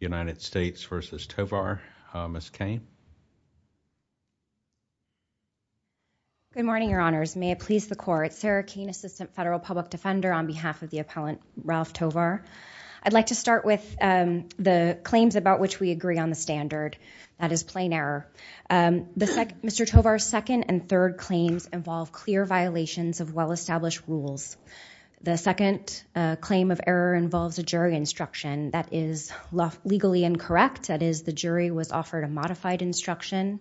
Good morning, your honors. May it please the court. Sarah Cain, Assistant Federal Public Defender on behalf of the appellant Ralph Tovar. I'd like to start with the claims about which we agree on the standard. That is plain error. Mr. Tovar's second and third claims involve clear violations of well-established rules. The second claim of error involves a jury instruction that is legally incorrect. That is, the jury was offered a modified instruction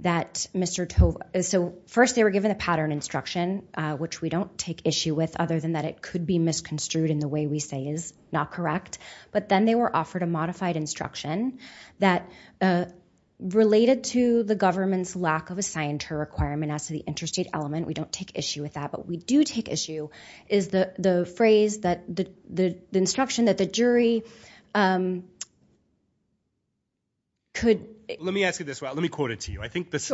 that Mr. Tovar – so first they were given a pattern instruction, which we don't take issue with other than that it could be misconstrued in the way we say is not correct. But then they were offered a modified instruction that related to the government's lack of a scienter requirement as to the interstate element. We don't take issue with that, but we do take issue with the phrase, the instruction that the jury could – Let me ask you this. Let me quote it to you. This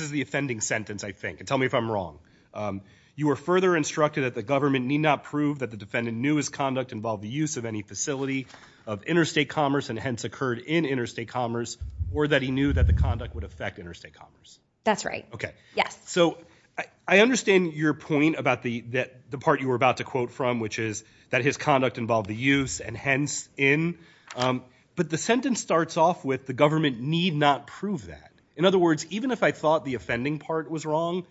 is the offending sentence, I think. Tell me if I'm wrong. You were further instructed that the government need not prove that the defendant knew his conduct involved the use of any facility of interstate commerce and hence occurred in interstate commerce or that he knew that the conduct would affect interstate commerce. That's right. Yes. So I understand your point about the part you were about to quote from, which is that his conduct involved the use and hence in. But the sentence starts off with the government need not prove that. In other words, even if I thought the offending part was wrong,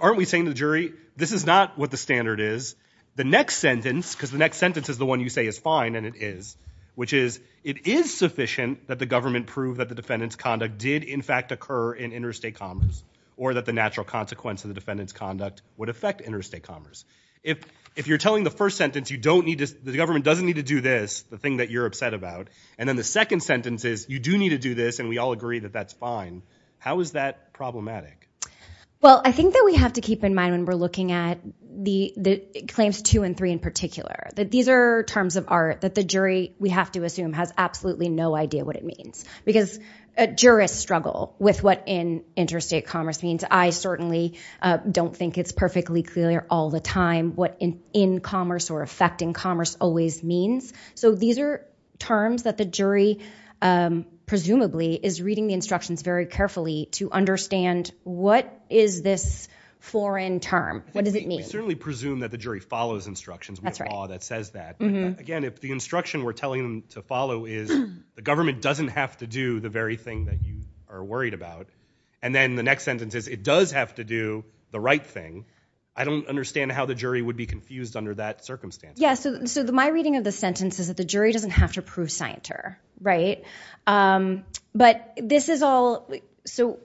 aren't we saying to the jury, this is not what the standard is. The next sentence, because the next sentence is the one you say is fine and it is, which is, it is sufficient that the government proved that the defendant's conduct did in fact occur in interstate commerce or that the natural consequence of the defendant's conduct would affect interstate commerce. If you're telling the first sentence you don't need to – the government doesn't need to do this, the thing that you're upset about, and then the second sentence is you do need to do this and we all agree that that's fine, how is that problematic? Well I think that we have to keep in mind when we're looking at the claims two and three in particular, that these are terms of art that the jury, we have to assume, has absolutely no idea what it means. Because jurists struggle with what interstate commerce means. I certainly don't think it's perfectly clear all the time what in commerce or effect in commerce always means. So these are terms that the jury presumably is reading the instructions very carefully to understand what is this foreign term? What does it mean? We certainly presume that the jury follows instructions with law that says that. Again, if the instruction we're telling them to follow is the government doesn't have to do the very thing that you are worried about, and then the next sentence is it does have to do the right thing, I don't understand how the jury would be confused under that circumstance. Yeah, so my reading of the sentence is that the jury doesn't have to prove scienter, right? But this is all – so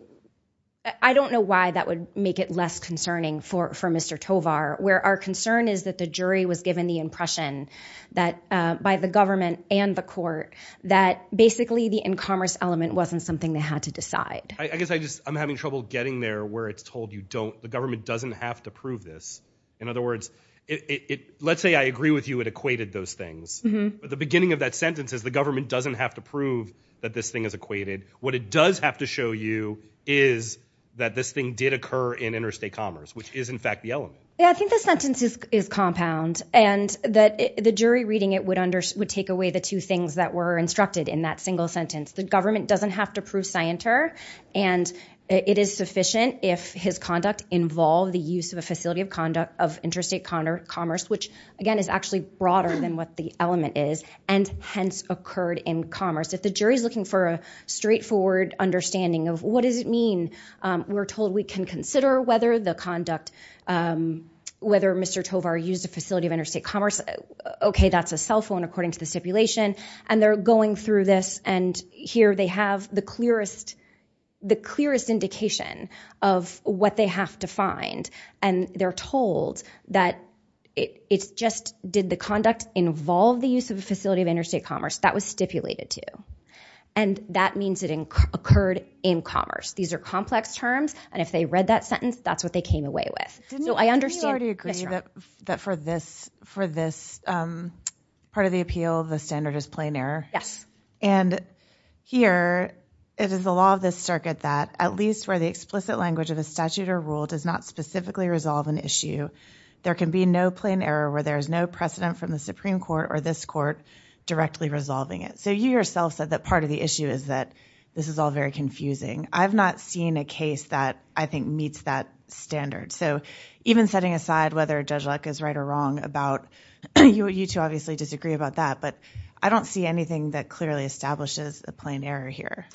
I don't know why that would make it less concerning for Mr. Tovar, where our concern is that the jury was given the impression that by the government and the court that basically the in commerce element wasn't something they had to decide. I guess I just – I'm having trouble getting there where it's told you don't – the government doesn't have to prove this. In other words, it – let's say I agree with you it equated those things. But the beginning of that sentence is the government doesn't have to prove that this thing is equated. What it does have to show you is that this thing did occur in interstate commerce, which is in fact the element. Yeah, I think the sentence is compound, and that the jury reading it would take away the two things that were instructed in that single sentence. The government doesn't have to prove scienter, and it is sufficient if his conduct involved the use of a facility of conduct of interstate commerce, which again is actually broader than what the element is, and hence occurred in commerce. If the jury is looking for a straightforward understanding of what does it mean, we're told we can consider whether the conduct – whether Mr. Tovar used a facility of interstate commerce. Okay, that's a cell phone according to the stipulation, and they're going through this, and here they have the clearest indication of what they have to find, and they're told that it's just did the conduct involve the use of a facility of interstate commerce that was stipulated to. And that means it occurred in commerce. These are complex terms, and if they read that sentence, that's what they came away with. So I understand – Didn't you already agree that for this part of the appeal, the standard is plain error? Yes. And here, it is the law of this circuit that at least where the explicit language of a statute or rule does not specifically resolve an issue, there can be no plain error where there is no precedent from the Supreme Court or this court directly resolving it. So you yourself said that part of the issue is that this is all very confusing. I've not seen a case that I think meets that standard. So even setting aside whether Judge Luck is right or wrong about – you two obviously disagree about that, but I don't see anything that clearly establishes a plain error here.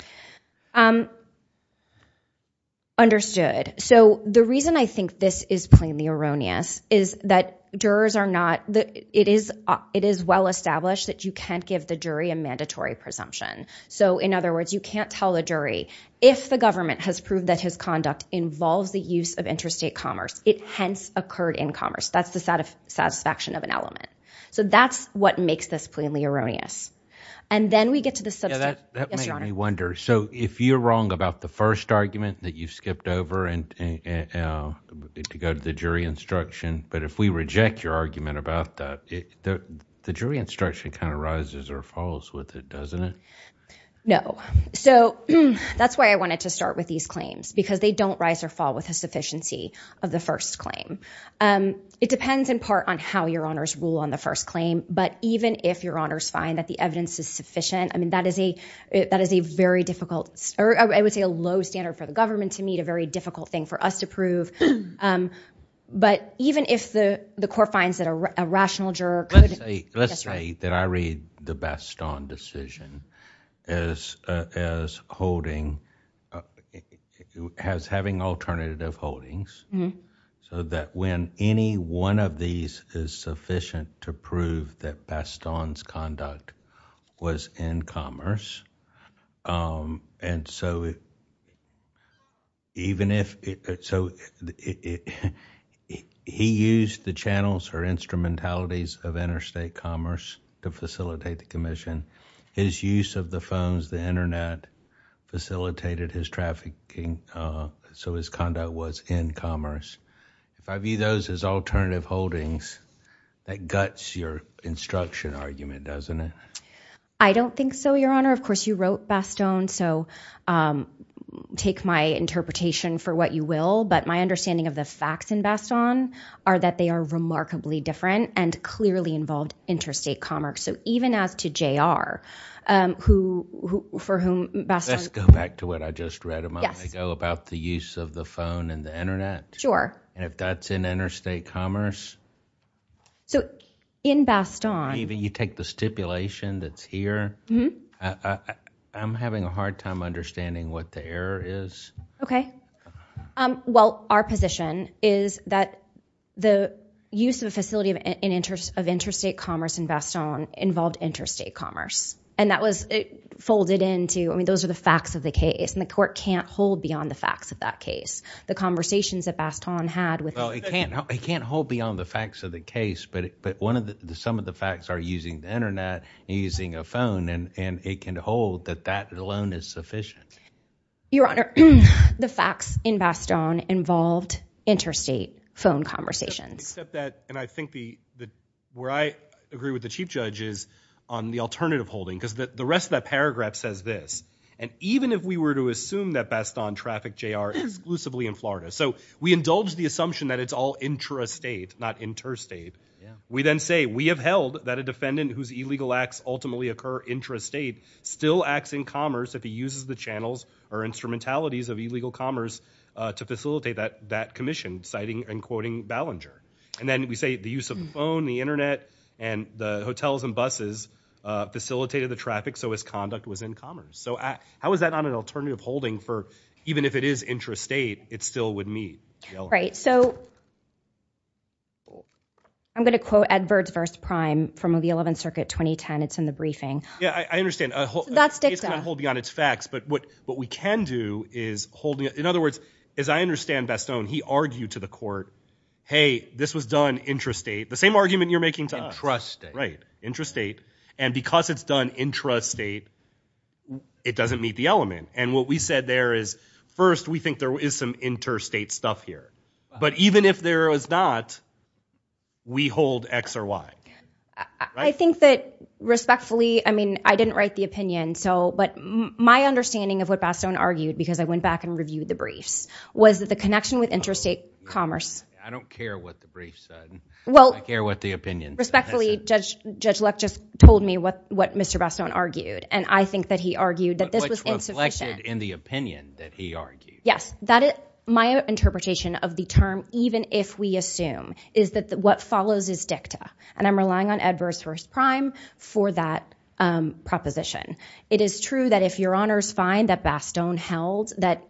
Understood. So the reason I think this is plainly erroneous is that jurors are not – it is well-established that you can't give the jury a mandatory presumption. So in other words, you can't tell the jury, if the government has proved that his conduct involves the use of interstate commerce, it hence occurred in commerce. That's the satisfaction of an element. So that's what makes this plainly erroneous. And then we get to the – Yeah, that made me wonder. So if you're wrong about the first argument that you skipped over to go to the jury instruction, but if we reject your argument about that, the jury instruction kind of rises or falls with it, doesn't it? No. So that's why I wanted to start with these claims, because they don't rise or fall with a sufficiency of the first claim. It depends in part on how your honors rule on the first claim, but even if your honors find that the evidence is sufficient, I mean, that is a very difficult – or I would say a low standard for the government to meet, a very difficult thing for us to prove. But even if the court finds that a rational juror could – Let's say that I read the Bastogne decision as holding – as having alternative holdings so that when any one of these is sufficient to prove that Bastogne's conduct was in commerce, even if – so he used the channels or instrumentalities of interstate commerce to facilitate the commission. His use of the phones, the internet, facilitated his trafficking so his conduct was in commerce. If I view those as alternative holdings, that guts your instruction argument, doesn't it? I don't think so, your honor. Of course, you wrote Bastogne, so take my interpretation for what you will, but my understanding of the facts in Bastogne are that they are remarkably different and clearly involved interstate commerce. So even as to JR, who – for whom Bastogne – Let's go back to what I just read a moment ago about the use of the phone and the internet. Sure. And if that's in interstate commerce – So in Bastogne – You take the stipulation that's here. I'm having a hard time understanding what the error is. Okay. Well, our position is that the use of a facility of interstate commerce in Bastogne involved interstate commerce and that was folded into – I mean, those are the facts of the case and the court can't hold beyond the facts of that case. The conversations that Bastogne had with – Well, it can't hold beyond the facts of the case, but some of the facts are using the internet and using a phone and it can hold that that alone is sufficient. Your honor, the facts in Bastogne involved interstate phone conversations. Except that – and I think the – where I agree with the Chief Judge is on the alternative holding because the rest of that paragraph says this. And even if we were to assume that J.R. exclusively in Florida. So we indulge the assumption that it's all intrastate, not interstate. We then say we have held that a defendant whose illegal acts ultimately occur intrastate still acts in commerce if he uses the channels or instrumentalities of illegal commerce to facilitate that commission, citing and quoting Ballinger. And then we say the use of the phone, the internet, and the hotels and buses facilitated the traffic so his conduct was in commerce. So how is that not an alternative holding for – even if it is intrastate, it still would meet, your honor? Right. So I'm going to quote Ed Verzvers Prime from the 11th Circuit 2010. It's in the briefing. Yeah, I understand. So that's dicta. It can't hold beyond its facts, but what we can do is hold – in other words, as I understand Bastogne, he argued to the court, hey, this was done intrastate. The same argument you're making to us. Intrastate. Intrastate. Right. Intrastate. And because it's done intrastate, it doesn't meet the element. And what we said there is, first, we think there is some intrastate stuff here. But even if there is not, we hold X or Y. I think that respectfully – I mean, I didn't write the opinion, so – but my understanding of what Bastogne argued, because I went back and reviewed the briefs, was that the connection with intrastate commerce – I don't care what the brief said. I care what the opinion said. Respectfully, Judge Luck just told me what Mr. Bastogne argued, and I think that he argued that this was insufficient. But which reflected in the opinion that he argued. Yes. My interpretation of the term, even if we assume, is that what follows is dicta. And I'm relying on Edwards v. Prime for that proposition. It is true that if Your Honors find that Bastogne held that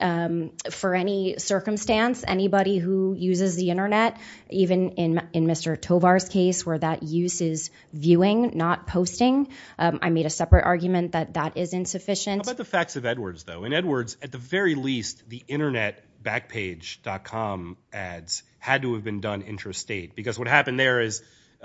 for any circumstance, anybody who uses the internet, even in Mr. Tovar's case, where that use is viewing, not posting, I made a separate argument that that is insufficient. How about the facts of Edwards, though? In Edwards, at the very least, the internet backpage.com ads had to have been done intrastate. Because what happened there is,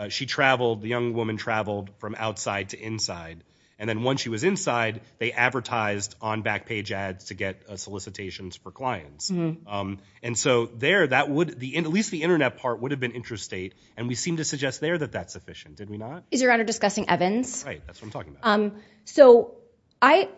she traveled – the young woman traveled from outside to inside. And then once she was inside, they advertised on backpage ads to get solicitations for clients. And so there, that would – at least the internet part would have been intrastate. And we seem to suggest there that that's sufficient. Did we not? Is Your Honor discussing Evans? That's right. That's what I'm talking about. So I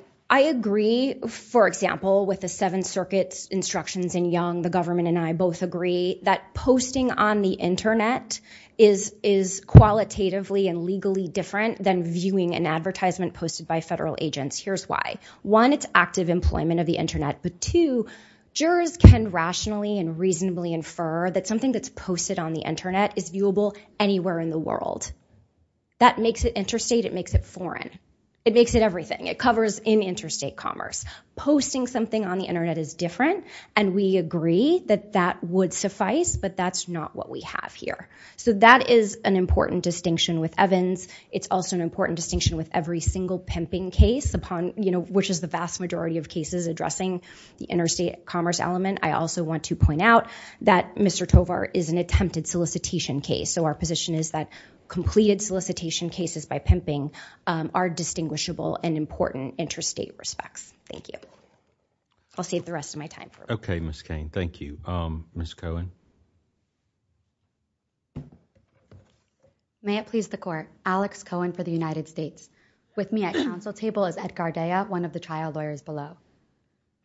agree, for example, with the Seventh Circuit's instructions in Young, the government and I both agree, that posting on the internet is qualitatively and legally different than viewing an advertisement posted by federal agents. Here's why. One, it's active employment of the internet. But two, jurors can rationally and reasonably infer that something that's posted on the internet is viewable anywhere in the world. That makes it intrastate. It makes it foreign. It makes it everything. It covers in intrastate commerce. Posting something on the internet is different. And we agree that that would suffice, but that's not what we have here. So that is an important distinction with Evans. It's also an important distinction with every single pimping case, which is the vast majority of cases addressing the interstate commerce element. I also want to point out that Mr. Tovar is an attempted solicitation case. So our position is that completed solicitation cases by pimping are distinguishable and important intrastate respects. Thank you. I'll save the rest of my time for a moment. Okay, Ms. Cain. Thank you. Ms. Cohen. May it please the court. Alex Cohen for the United States. With me at council table is Ed Gardea, one of the trial lawyers below.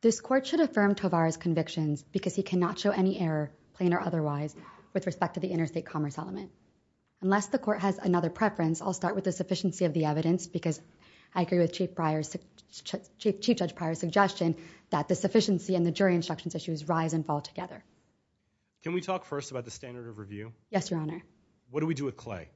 This court should affirm Tovar's convictions because he cannot show any error, plain or otherwise, with respect to the interstate commerce element. Unless the court has another preference, I'll start with the sufficiency of the evidence because I agree with Chief Judge Pryor's suggestion that the sufficiency and the jury instructions issues rise and fall together. Can we talk first about the standard of review? Yes, Your Honor. What do we do with Clay?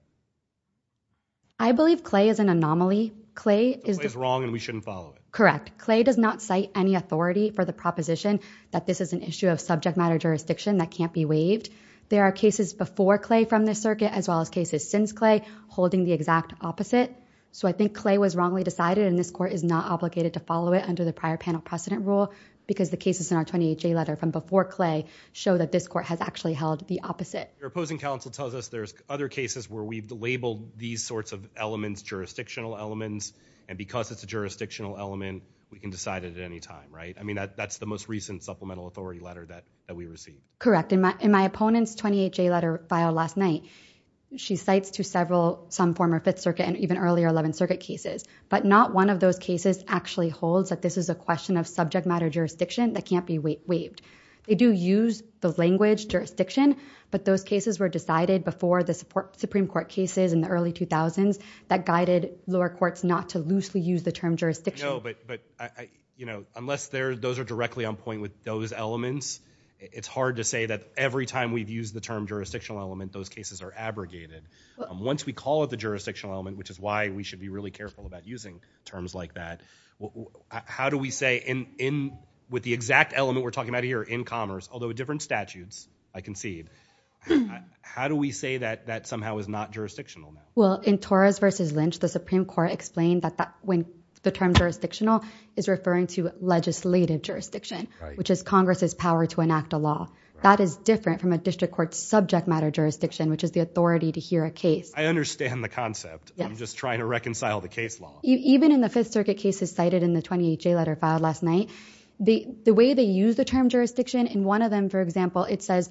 I believe Clay is an anomaly. Clay is wrong and we shouldn't follow it. Correct. Clay does not cite any authority for the proposition that this is an issue of subject matter jurisdiction that can't be waived. There are cases before Clay from this circuit as well as cases since Clay holding the exact opposite. So I think Clay was wrongly decided and this court is not obligated to follow it under the prior panel precedent rule because the cases in our 28J letter from before Clay show that this court has actually held the opposite. Your opposing counsel tells us there's other cases where we've labeled these sorts of elements jurisdictional elements and because it's a jurisdictional element, we can decide it at any time, right? I mean, that's the most recent supplemental authority letter that we received. Correct. In my opponent's 28J letter filed last night, she cites to several, some former Fifth Circuit and even earlier Eleventh Circuit cases, but not one of those cases actually holds that this is a question of subject matter jurisdiction that can't be waived. They do use the language jurisdiction, but those cases were decided before the Supreme Court cases in the early 2000s that guided lower courts not to loosely use the term jurisdiction. No, but I, you know, unless those are directly on point with those elements, it's hard to say that every time we've used the term jurisdictional element, those cases are abrogated. Once we call it a jurisdictional element, which is why we should be really careful about using terms like that. How do we say in, in with the exact element we're talking about here in commerce, although different statutes, I concede, how do we say that that somehow is not jurisdictional? Well, in Torres versus Lynch, the Supreme Court explained that that when the term jurisdictional is referring to legislative jurisdiction, which is Congress's power to enact a law that is different from a district court subject matter jurisdiction, which is the authority to hear a case. I understand the concept. I'm just trying to reconcile the case law. Even in the fifth circuit cases cited in the 28 J letter filed last night, the, the way they use the term jurisdiction in one of them, for example, it says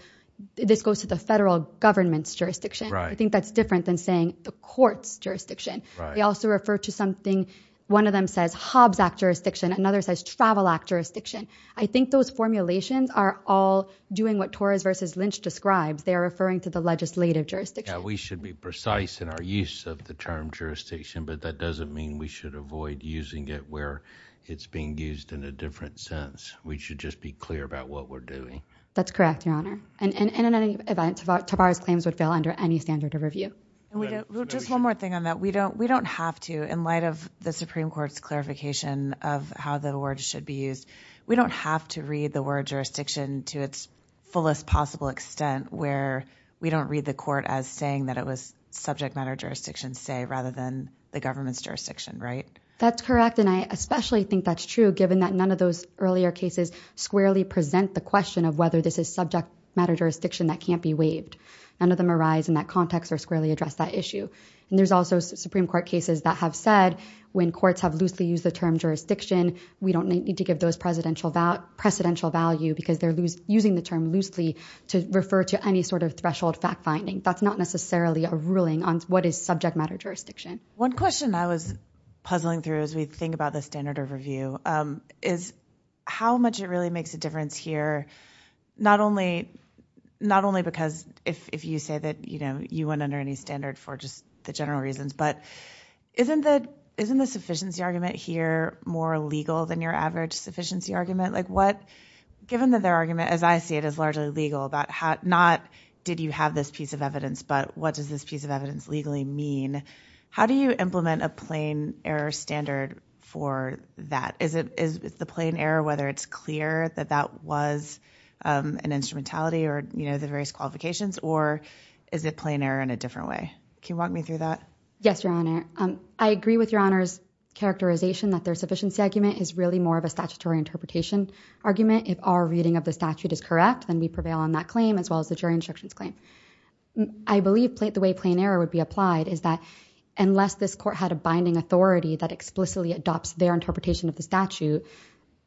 this goes to the federal government's jurisdiction. I think that's different than saying the court's jurisdiction. They also refer to something. One of them says Hobbs act jurisdiction. Another says travel act jurisdiction. I think those formulations are all doing what Torres versus Lynch describes. They are referring to the legislative jurisdiction. We should be precise in our use of the term jurisdiction, but that doesn't mean we should avoid using it where it's being used in a different sense. We should just be clear about what we're doing. That's correct, Your Honor. And, and, and in any event, Tavares claims would fail under any standard of review. And we don't, we'll just one more thing on that. We don't, we don't have to, in light of the Supreme Court's clarification of how the words should be used, we don't have to read the word jurisdiction to its fullest possible extent where we don't read the court as saying that it was subject matter jurisdiction say rather than the government's jurisdiction, right? That's correct. And I especially think that's true given that none of those earlier cases squarely present the question of whether this is subject matter jurisdiction that can't be waived. None of them arise in that context or squarely address that issue. And there's also Supreme Court cases that have said when courts have loosely used the term jurisdiction, we don't need to give those presidential value because they're using the term loosely to refer to any sort of threshold fact finding. That's not necessarily a ruling on what is subject matter jurisdiction. One question I was puzzling through as we think about the standard of review is how much it really makes a difference here, not only, not only because if, if you say that, you know, you went under any standard for just the general reasons, but isn't the, isn't the sufficiency argument here more legal than your average sufficiency argument? Like what, given that their argument, as I see it as largely legal about how not did you have this piece of evidence, but what does this piece of evidence legally mean? How do you implement a plain error standard for that? Is it, is the plain error, whether it's clear that that was, um, an instrumentality or, you know, the various qualifications or is it plain error in a different way? Can you walk me through that? Yes, Your Honor. Um, I agree with Your Honor's characterization that their sufficiency argument is really more of a statutory interpretation argument. If our reading of the statute is correct, then we prevail on that claim as well as the jury instructions claim. I believe the way plain error would be applied is that unless this court had a binding authority that explicitly adopts their interpretation of the statute,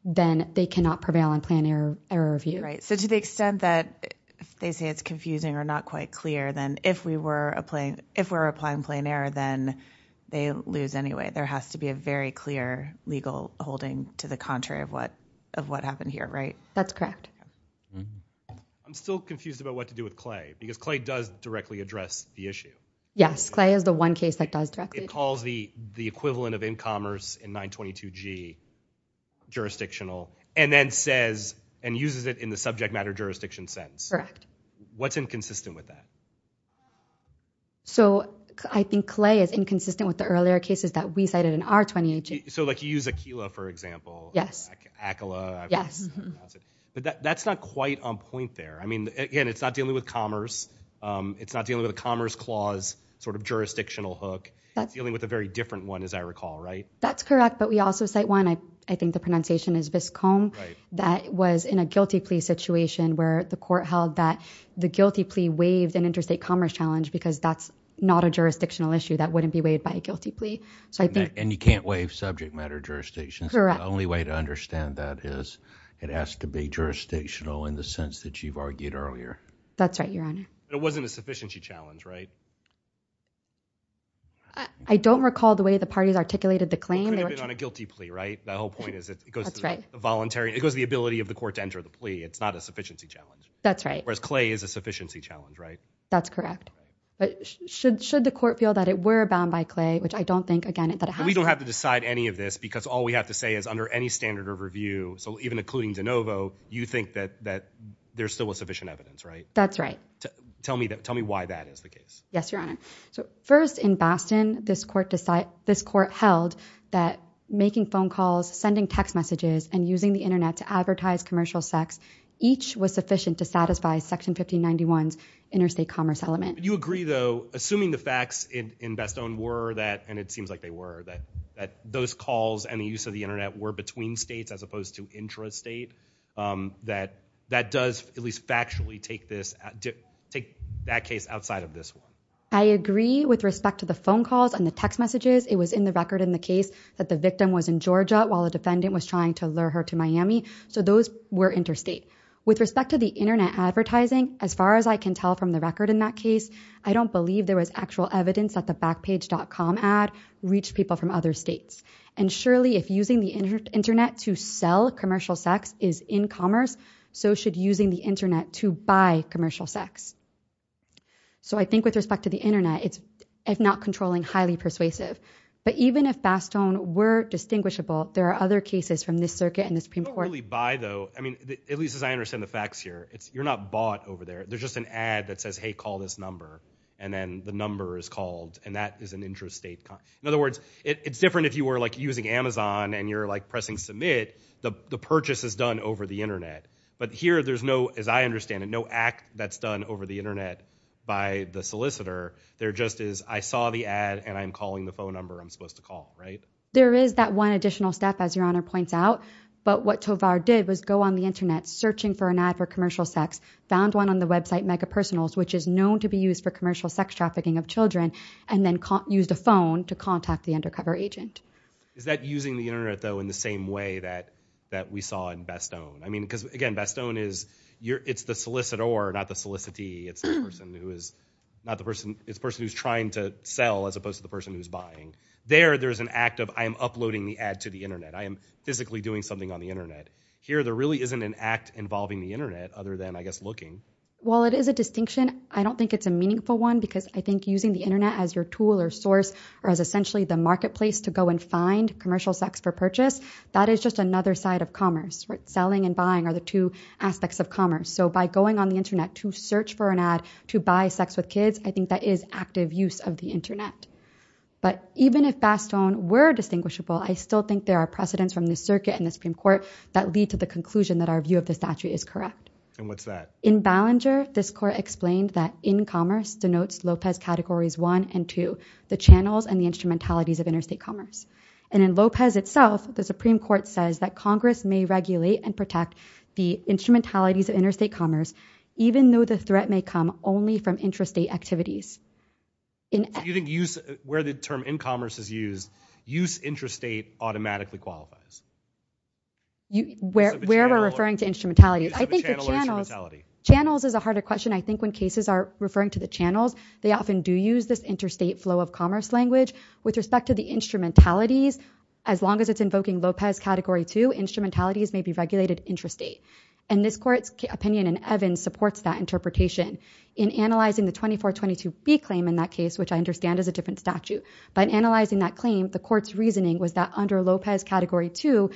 then they cannot prevail on plain error review. Right. So to the extent that they say it's confusing or not quite clear, then if we were applying, if we're applying plain error, then they lose anyway. There has to be a very clear legal holding to the contrary of what, of what happened here, right? That's correct. I'm still confused about what to do with Clay because Clay does directly address the issue. Yes. Clay is the one case that does directly. It calls the, the equivalent of in commerce in 922 G jurisdictional and then says and uses it in the subject matter jurisdiction sentence. Correct. What's inconsistent with that? So I think Clay is inconsistent with the earlier cases that we cited in our 2018. So like you use a Kila for example, yes, but that's not quite on point there. I mean, again, it's not dealing with commerce. Um, it's not dealing with a commerce clause, sort of jurisdictional hook that's dealing with a very different one, as I recall, right? That's correct. But we also say one, I, I think the pronunciation is viscom that was in a guilty plea situation where the court held that the guilty plea waived an interstate commerce challenge because that's not a jurisdictional issue that wouldn't be weighed by a guilty plea. So I think, and you can't waive subject matter jurisdictions. The only way to understand that is it has to be jurisdictional in the sense that you've argued earlier. That's right. Your Honor. It wasn't a sufficiency challenge, right? I don't recall the way the parties articulated the claim on a guilty plea, right? The whole a sufficiency challenge, right? That's correct. But should, should the court feel that it were bound by clay, which I don't think again, that we don't have to decide any of this because all we have to say is under any standard of review. So even including DeNovo, you think that, that there's still a sufficient evidence, right? That's right. Tell me that. Tell me why that is the case. Yes, Your Honor. So first in Boston, this court decide this court held that making phone calls, sending text messages and using the internet to advertise commercial sex. Each was sufficient to satisfy section 1591 interstate commerce element. Do you agree though, assuming the facts in, in Bestone were that, and it seems like they were that, that those calls and the use of the internet were between states as opposed to intrastate, um, that that does at least factually take this, take that case outside of this one. I agree with respect to the phone calls and the text messages. It was in the record in the case that the victim was in Georgia while the defendant was trying to lure her to Miami. So those were interstate with respect to the internet advertising. As far as I can tell from the record in that case, I don't believe there was actual evidence that the backpage.com ad reached people from other states. And surely if using the internet to sell commercial sex is in commerce, so should using the internet to buy commercial sex. So I think with respect to the internet, it's if not controlling highly persuasive, but even if Bastogne were distinguishable, there are other cases from this circuit and the Supreme Court by though, I mean, at least as I understand the facts here, it's, you're not bought over there. There's just an ad that says, Hey, call this number. And then the number is called and that is an intrastate. In other words, it's different if you were like using Amazon and you're like pressing submit, the purchase is done over the internet. But here there's no, as I understand it, no act that's done over the internet by the solicitor. There just is, I saw the ad and I'm calling the phone number I'm supposed to call, right? There is that one additional step as your honor points out. But what Tovar did was go on the internet searching for an ad for commercial sex, found one on the website mega personals, which is known to be used for commercial sex trafficking of children, and then used a phone to contact the undercover agent. Is that using the internet though in the same way that, that we saw in Bastogne? I mean, because again, Bastogne is your, it's the solicitor, not the solicitee. It's the person who is not the person, it's the person who's trying to sell as opposed to the person who's buying. There, there's an act of I am uploading the ad to the internet. I am physically doing something on the internet. Here there really isn't an act involving the internet other than I guess looking. Well, it is a distinction. I don't think it's a meaningful one because I think using the internet as your tool or source or as essentially the marketplace to go and find commercial sex for purchase, that is just another side of commerce, right? Selling and buying are the two aspects of commerce. So by going on the internet to search for an ad to buy sex with kids, I think that is active use of the internet. But even if Bastogne were distinguishable, I still think there are precedents from the circuit and the Supreme Court that lead to the conclusion that our view of the statute is correct. And what's that? In Ballinger, this court explained that in commerce denotes Lopez categories one and two, the channels and the instrumentalities of interstate commerce. And in Lopez itself, the Supreme Court says that Congress may regulate and protect the instrumentalities of interstate commerce, even though the threat may come only from intrastate activities. Do you think use where the term in commerce is used, use interstate automatically qualifies? Where we're referring to instrumentality. I think the channels is a harder question. I think when cases are referring to the channels, they often do use this interstate flow of with respect to the instrumentalities, as long as it's invoking Lopez category two instrumentalities may be regulated intrastate. And this court's opinion in Evans supports that interpretation in analyzing the 2422B claim in that case, which I understand is a different statute. But analyzing that claim, the court's reasoning was that under Lopez category two,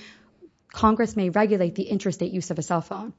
Congress may regulate the intrastate use of a cell phone.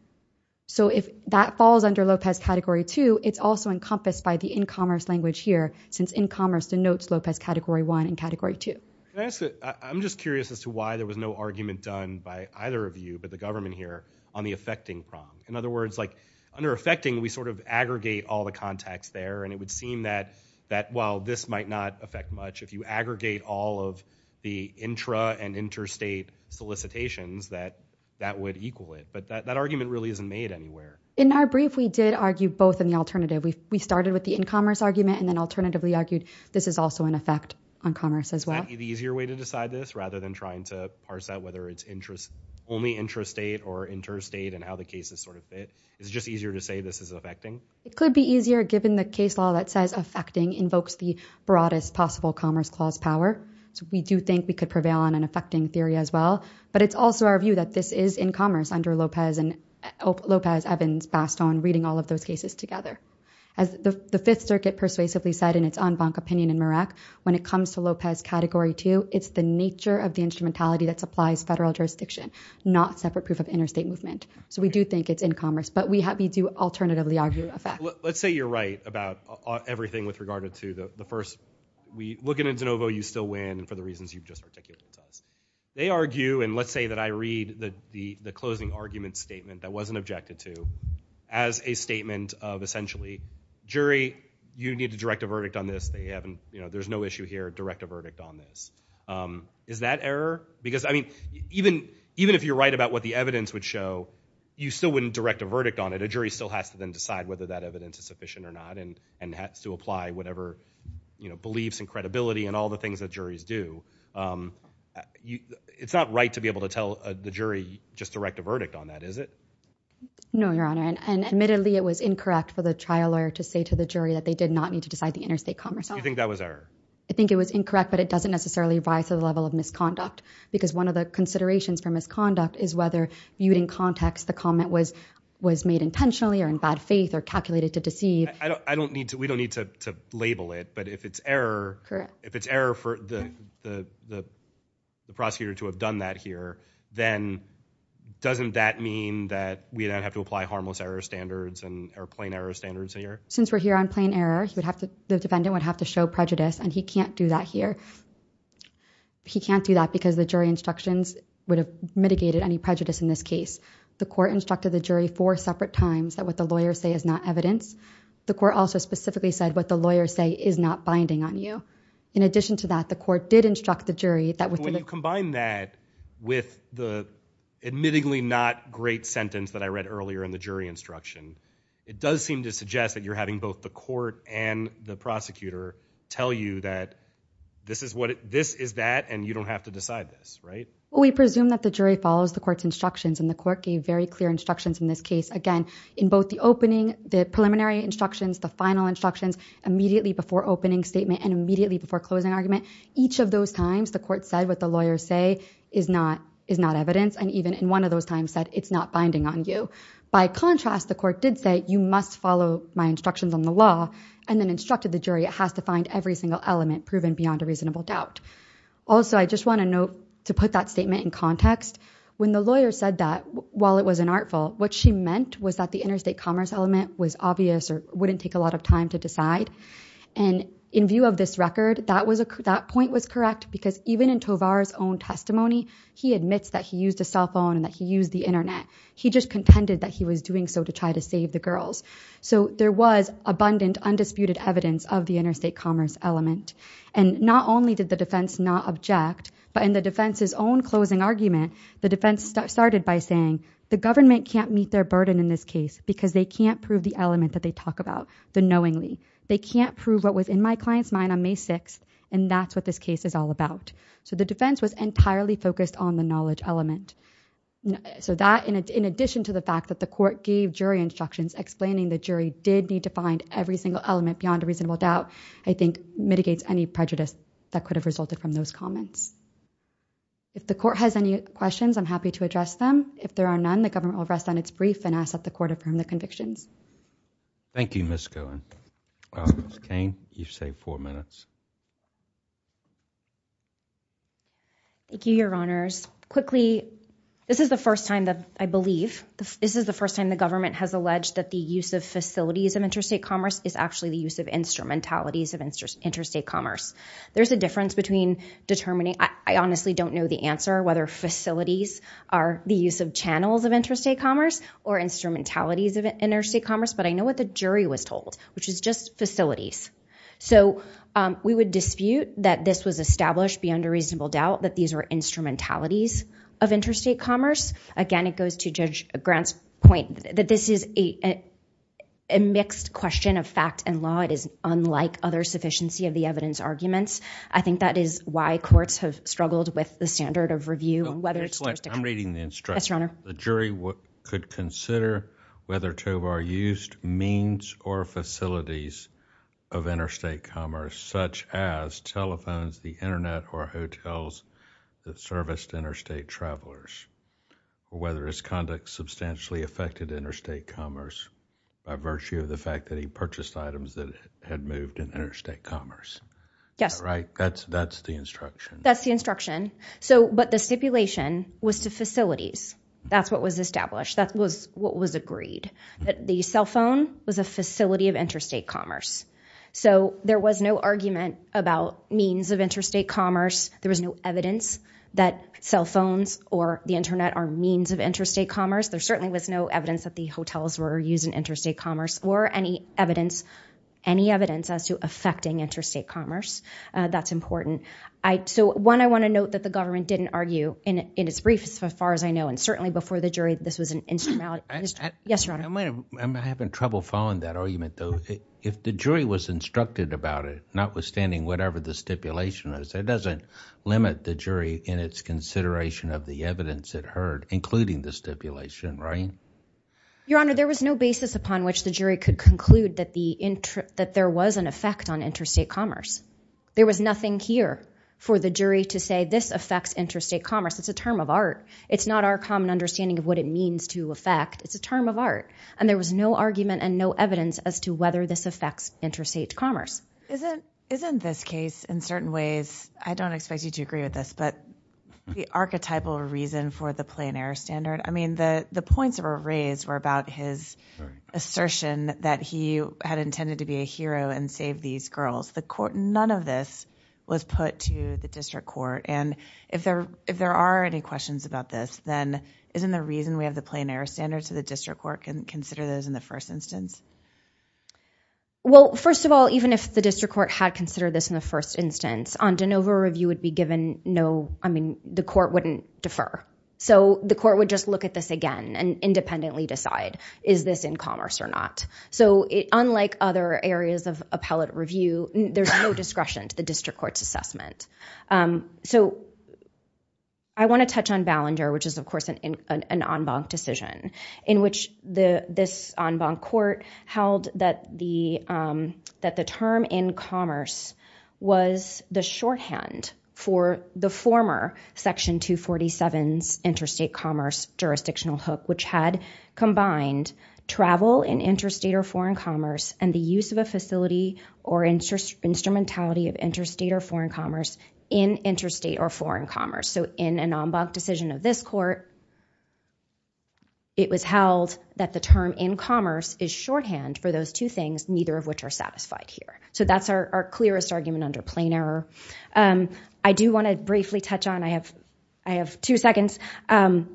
So if that falls under Lopez category two, it's also encompassed by the in commerce language here since in commerce denotes Lopez category one and category two. I'm just curious as to why there was no argument done by either of you, but the government here on the affecting prong. In other words, like under affecting, we sort of aggregate all the context there. And it would seem that that while this might not affect much, if you aggregate all of the intra and interstate solicitations that that would equal it. But that argument really isn't made anywhere. In our brief, we did argue both in the alternative. We started with the in commerce argument and then alternatively argued this is also an effect on commerce as well. Is that the easier way to decide this rather than trying to parse out whether it's only intrastate or interstate and how the cases sort of fit? Is it just easier to say this is affecting? It could be easier given the case law that says affecting invokes the broadest possible commerce clause power. So we do think we could prevail on an affecting theory as well. But it's also our view that this is in commerce under Lopez, Evans, Bastogne, reading all those cases together. As the Fifth Circuit persuasively said in its en banc opinion in Merak, when it comes to Lopez category two, it's the nature of the instrumentality that supplies federal jurisdiction, not separate proof of interstate movement. So we do think it's in commerce. But we do alternatively argue a fact. Let's say you're right about everything with regard to the first. We look at a de novo, you still win for the reasons you've just articulated. They argue and let's say that I read the closing argument statement that wasn't objected to as a statement of essentially jury, you need to direct a verdict on this. There's no issue here. Direct a verdict on this. Is that error? Because even if you're right about what the evidence would show, you still wouldn't direct a verdict on it. A jury still has to then decide whether that evidence is sufficient or not and has to apply whatever beliefs and credibility and all the things that juries do. Um, it's not right to be able to tell the jury just direct a verdict on that, is it? No, your honor. And admittedly, it was incorrect for the trial lawyer to say to the jury that they did not need to decide the interstate commerce. I think that was our, I think it was incorrect, but it doesn't necessarily rise to the level of misconduct because one of the considerations for misconduct is whether you would in context, the comment was, was made intentionally or in bad faith or calculated to deceive. I don't, I don't need to, we don't need to, to label it, but if it's error, if it's error for the, the, the, the prosecutor to have done that here, then doesn't that mean that we don't have to apply harmless error standards and are plain error standards here? Since we're here on plain error, he would have to, the defendant would have to show prejudice and he can't do that here. He can't do that because the jury instructions would have mitigated any prejudice in this case. The court instructed the jury four separate times that what the lawyers say is not evidence. The court also specifically said what the lawyers say is not binding on you. In addition to that, the court did instruct the jury that when you combine that with the admittedly not great sentence that I read earlier in the jury instruction, it does seem to suggest that you're having both the court and the prosecutor tell you that this is what it, this is that, and you don't have to decide this, right? Well, we presume that the jury follows the court's instructions and the court gave very clear instructions in this case. Again, in both the opening, the preliminary instructions, the final instructions, immediately before opening statement and immediately before closing argument, each of those times the court said what the lawyers say is not, is not evidence. And even in one of those times said it's not binding on you. By contrast, the court did say you must follow my instructions on the law and then instructed the jury. It has to find every single element proven beyond a reasonable doubt. Also, I just want to note to put that statement in context, when the lawyer said that while it was an artful, what she meant was that the interstate commerce element was obvious or wouldn't take a lot of time to decide. And in view of this record, that was a, that point was correct because even in Tovar's own testimony, he admits that he used a cell phone and that he used the internet. He just contended that he was doing so to try to save the girls. So there was abundant undisputed evidence of the interstate commerce element. And not only did the defense not object, but in the defense's own closing argument, the defense started by saying the government can't meet their burden in this case because they can't prove the element that they talk about the knowingly. They can't prove what was in my client's mind on May 6th. And that's what this case is all about. So the defense was entirely focused on the knowledge element. So that in addition to the fact that the court gave jury instructions explaining the jury did need to find every single element beyond a reasonable doubt, I think mitigates any prejudice that could have resulted from those comments. If the court has any questions, I'm happy to address them. If there are none, the government will rest on its brief and ask that the court affirm the convictions. Thank you, Ms. Cohen. Ms. Kane, you've saved four minutes. Thank you, your honors. Quickly, this is the first time that I believe this is the first time the government has alleged that the use of facilities of interstate commerce is actually the use of instrumentalities of interstate commerce. There's a difference between determining... I honestly don't know the answer, whether facilities are the use of channels of interstate commerce or instrumentalities of interstate commerce, but I know what the jury was told, which is just facilities. So we would dispute that this was established beyond a reasonable doubt that these were instrumentalities of interstate commerce. Again, it goes to Judge Grant's point that this is a mixed question of fact and law. It is unlike other sufficiency of the evidence arguments. I think that is why courts have struggled with the standard of review. I'm reading the instruction. Yes, your honor. The jury could consider whether Tovar used means or facilities of interstate travelers, whether his conduct substantially affected interstate commerce by virtue of the fact that he purchased items that had moved in interstate commerce. Yes. Right? That's the instruction. That's the instruction. But the stipulation was to facilities. That's what was established. That was what was agreed. The cell phone was a facility of interstate commerce. So there was no argument about means of interstate commerce. There was no evidence that cell phones or the Internet are means of interstate commerce. There certainly was no evidence that the hotels were used in interstate commerce or any evidence, any evidence as to affecting interstate commerce. That's important. So one, I want to note that the government didn't argue in its brief as far as I know, and certainly before the jury, this was an instrumentality. Yes, your honor. I'm having trouble following that argument, though. If the jury was instructed about it, notwithstanding whatever the stipulation is, it doesn't limit the jury in its consideration of the evidence it heard, including the stipulation, right? Your honor, there was no basis upon which the jury could conclude that the that there was an effect on interstate commerce. There was nothing here for the jury to say. This affects interstate commerce. It's a term of art. It's not our common understanding of what it means to affect. It's a term of art. And there was no argument and no evidence as to whether this affects interstate commerce. Isn't isn't this case in certain ways? I don't expect you to agree with this, but the archetypal reason for the plain air standard. I mean, the points that were raised were about his assertion that he had intended to be a hero and save these girls. The court, none of this was put to the district court. And if there if there are any questions about this, then isn't the reason we have the plain air standard to the district court and consider those in the first instance? Well, first of all, even if the district court had considered this in the first instance, on de novo review would be given no, I mean, the court wouldn't defer. So the court would just look at this again and independently decide, is this in commerce or not? So unlike other areas of appellate review, there's no discretion to the district court's assessment. So I want to touch on Ballinger, which is, of course, an en banc decision in which the this en banc court held that the term in commerce was the shorthand for the former section 247 interstate commerce jurisdictional hook, which had combined travel in interstate or foreign commerce and the use of a facility or instrumentality of interstate or foreign commerce in interstate or foreign commerce. So in an en banc decision of this court, it was held that the term in commerce is shorthand for those two things, neither of which are satisfied here. So that's our clearest argument under plain error. Um, I do want to briefly touch on I have I have two seconds. Um,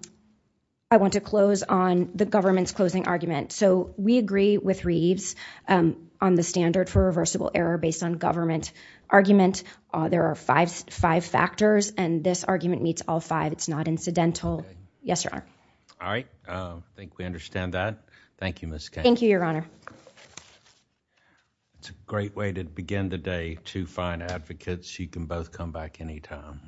I want to close on the government's closing argument. So we agree with Reeves on the standard for reversible error based on government argument. There are 55 factors and this argument meets all five. It's not incidental. Yes, sir. All right. I think we understand that. Thank you, Miss. Thank you, Your Honor. It's a great way to begin today to find advocates. You can both come back anytime.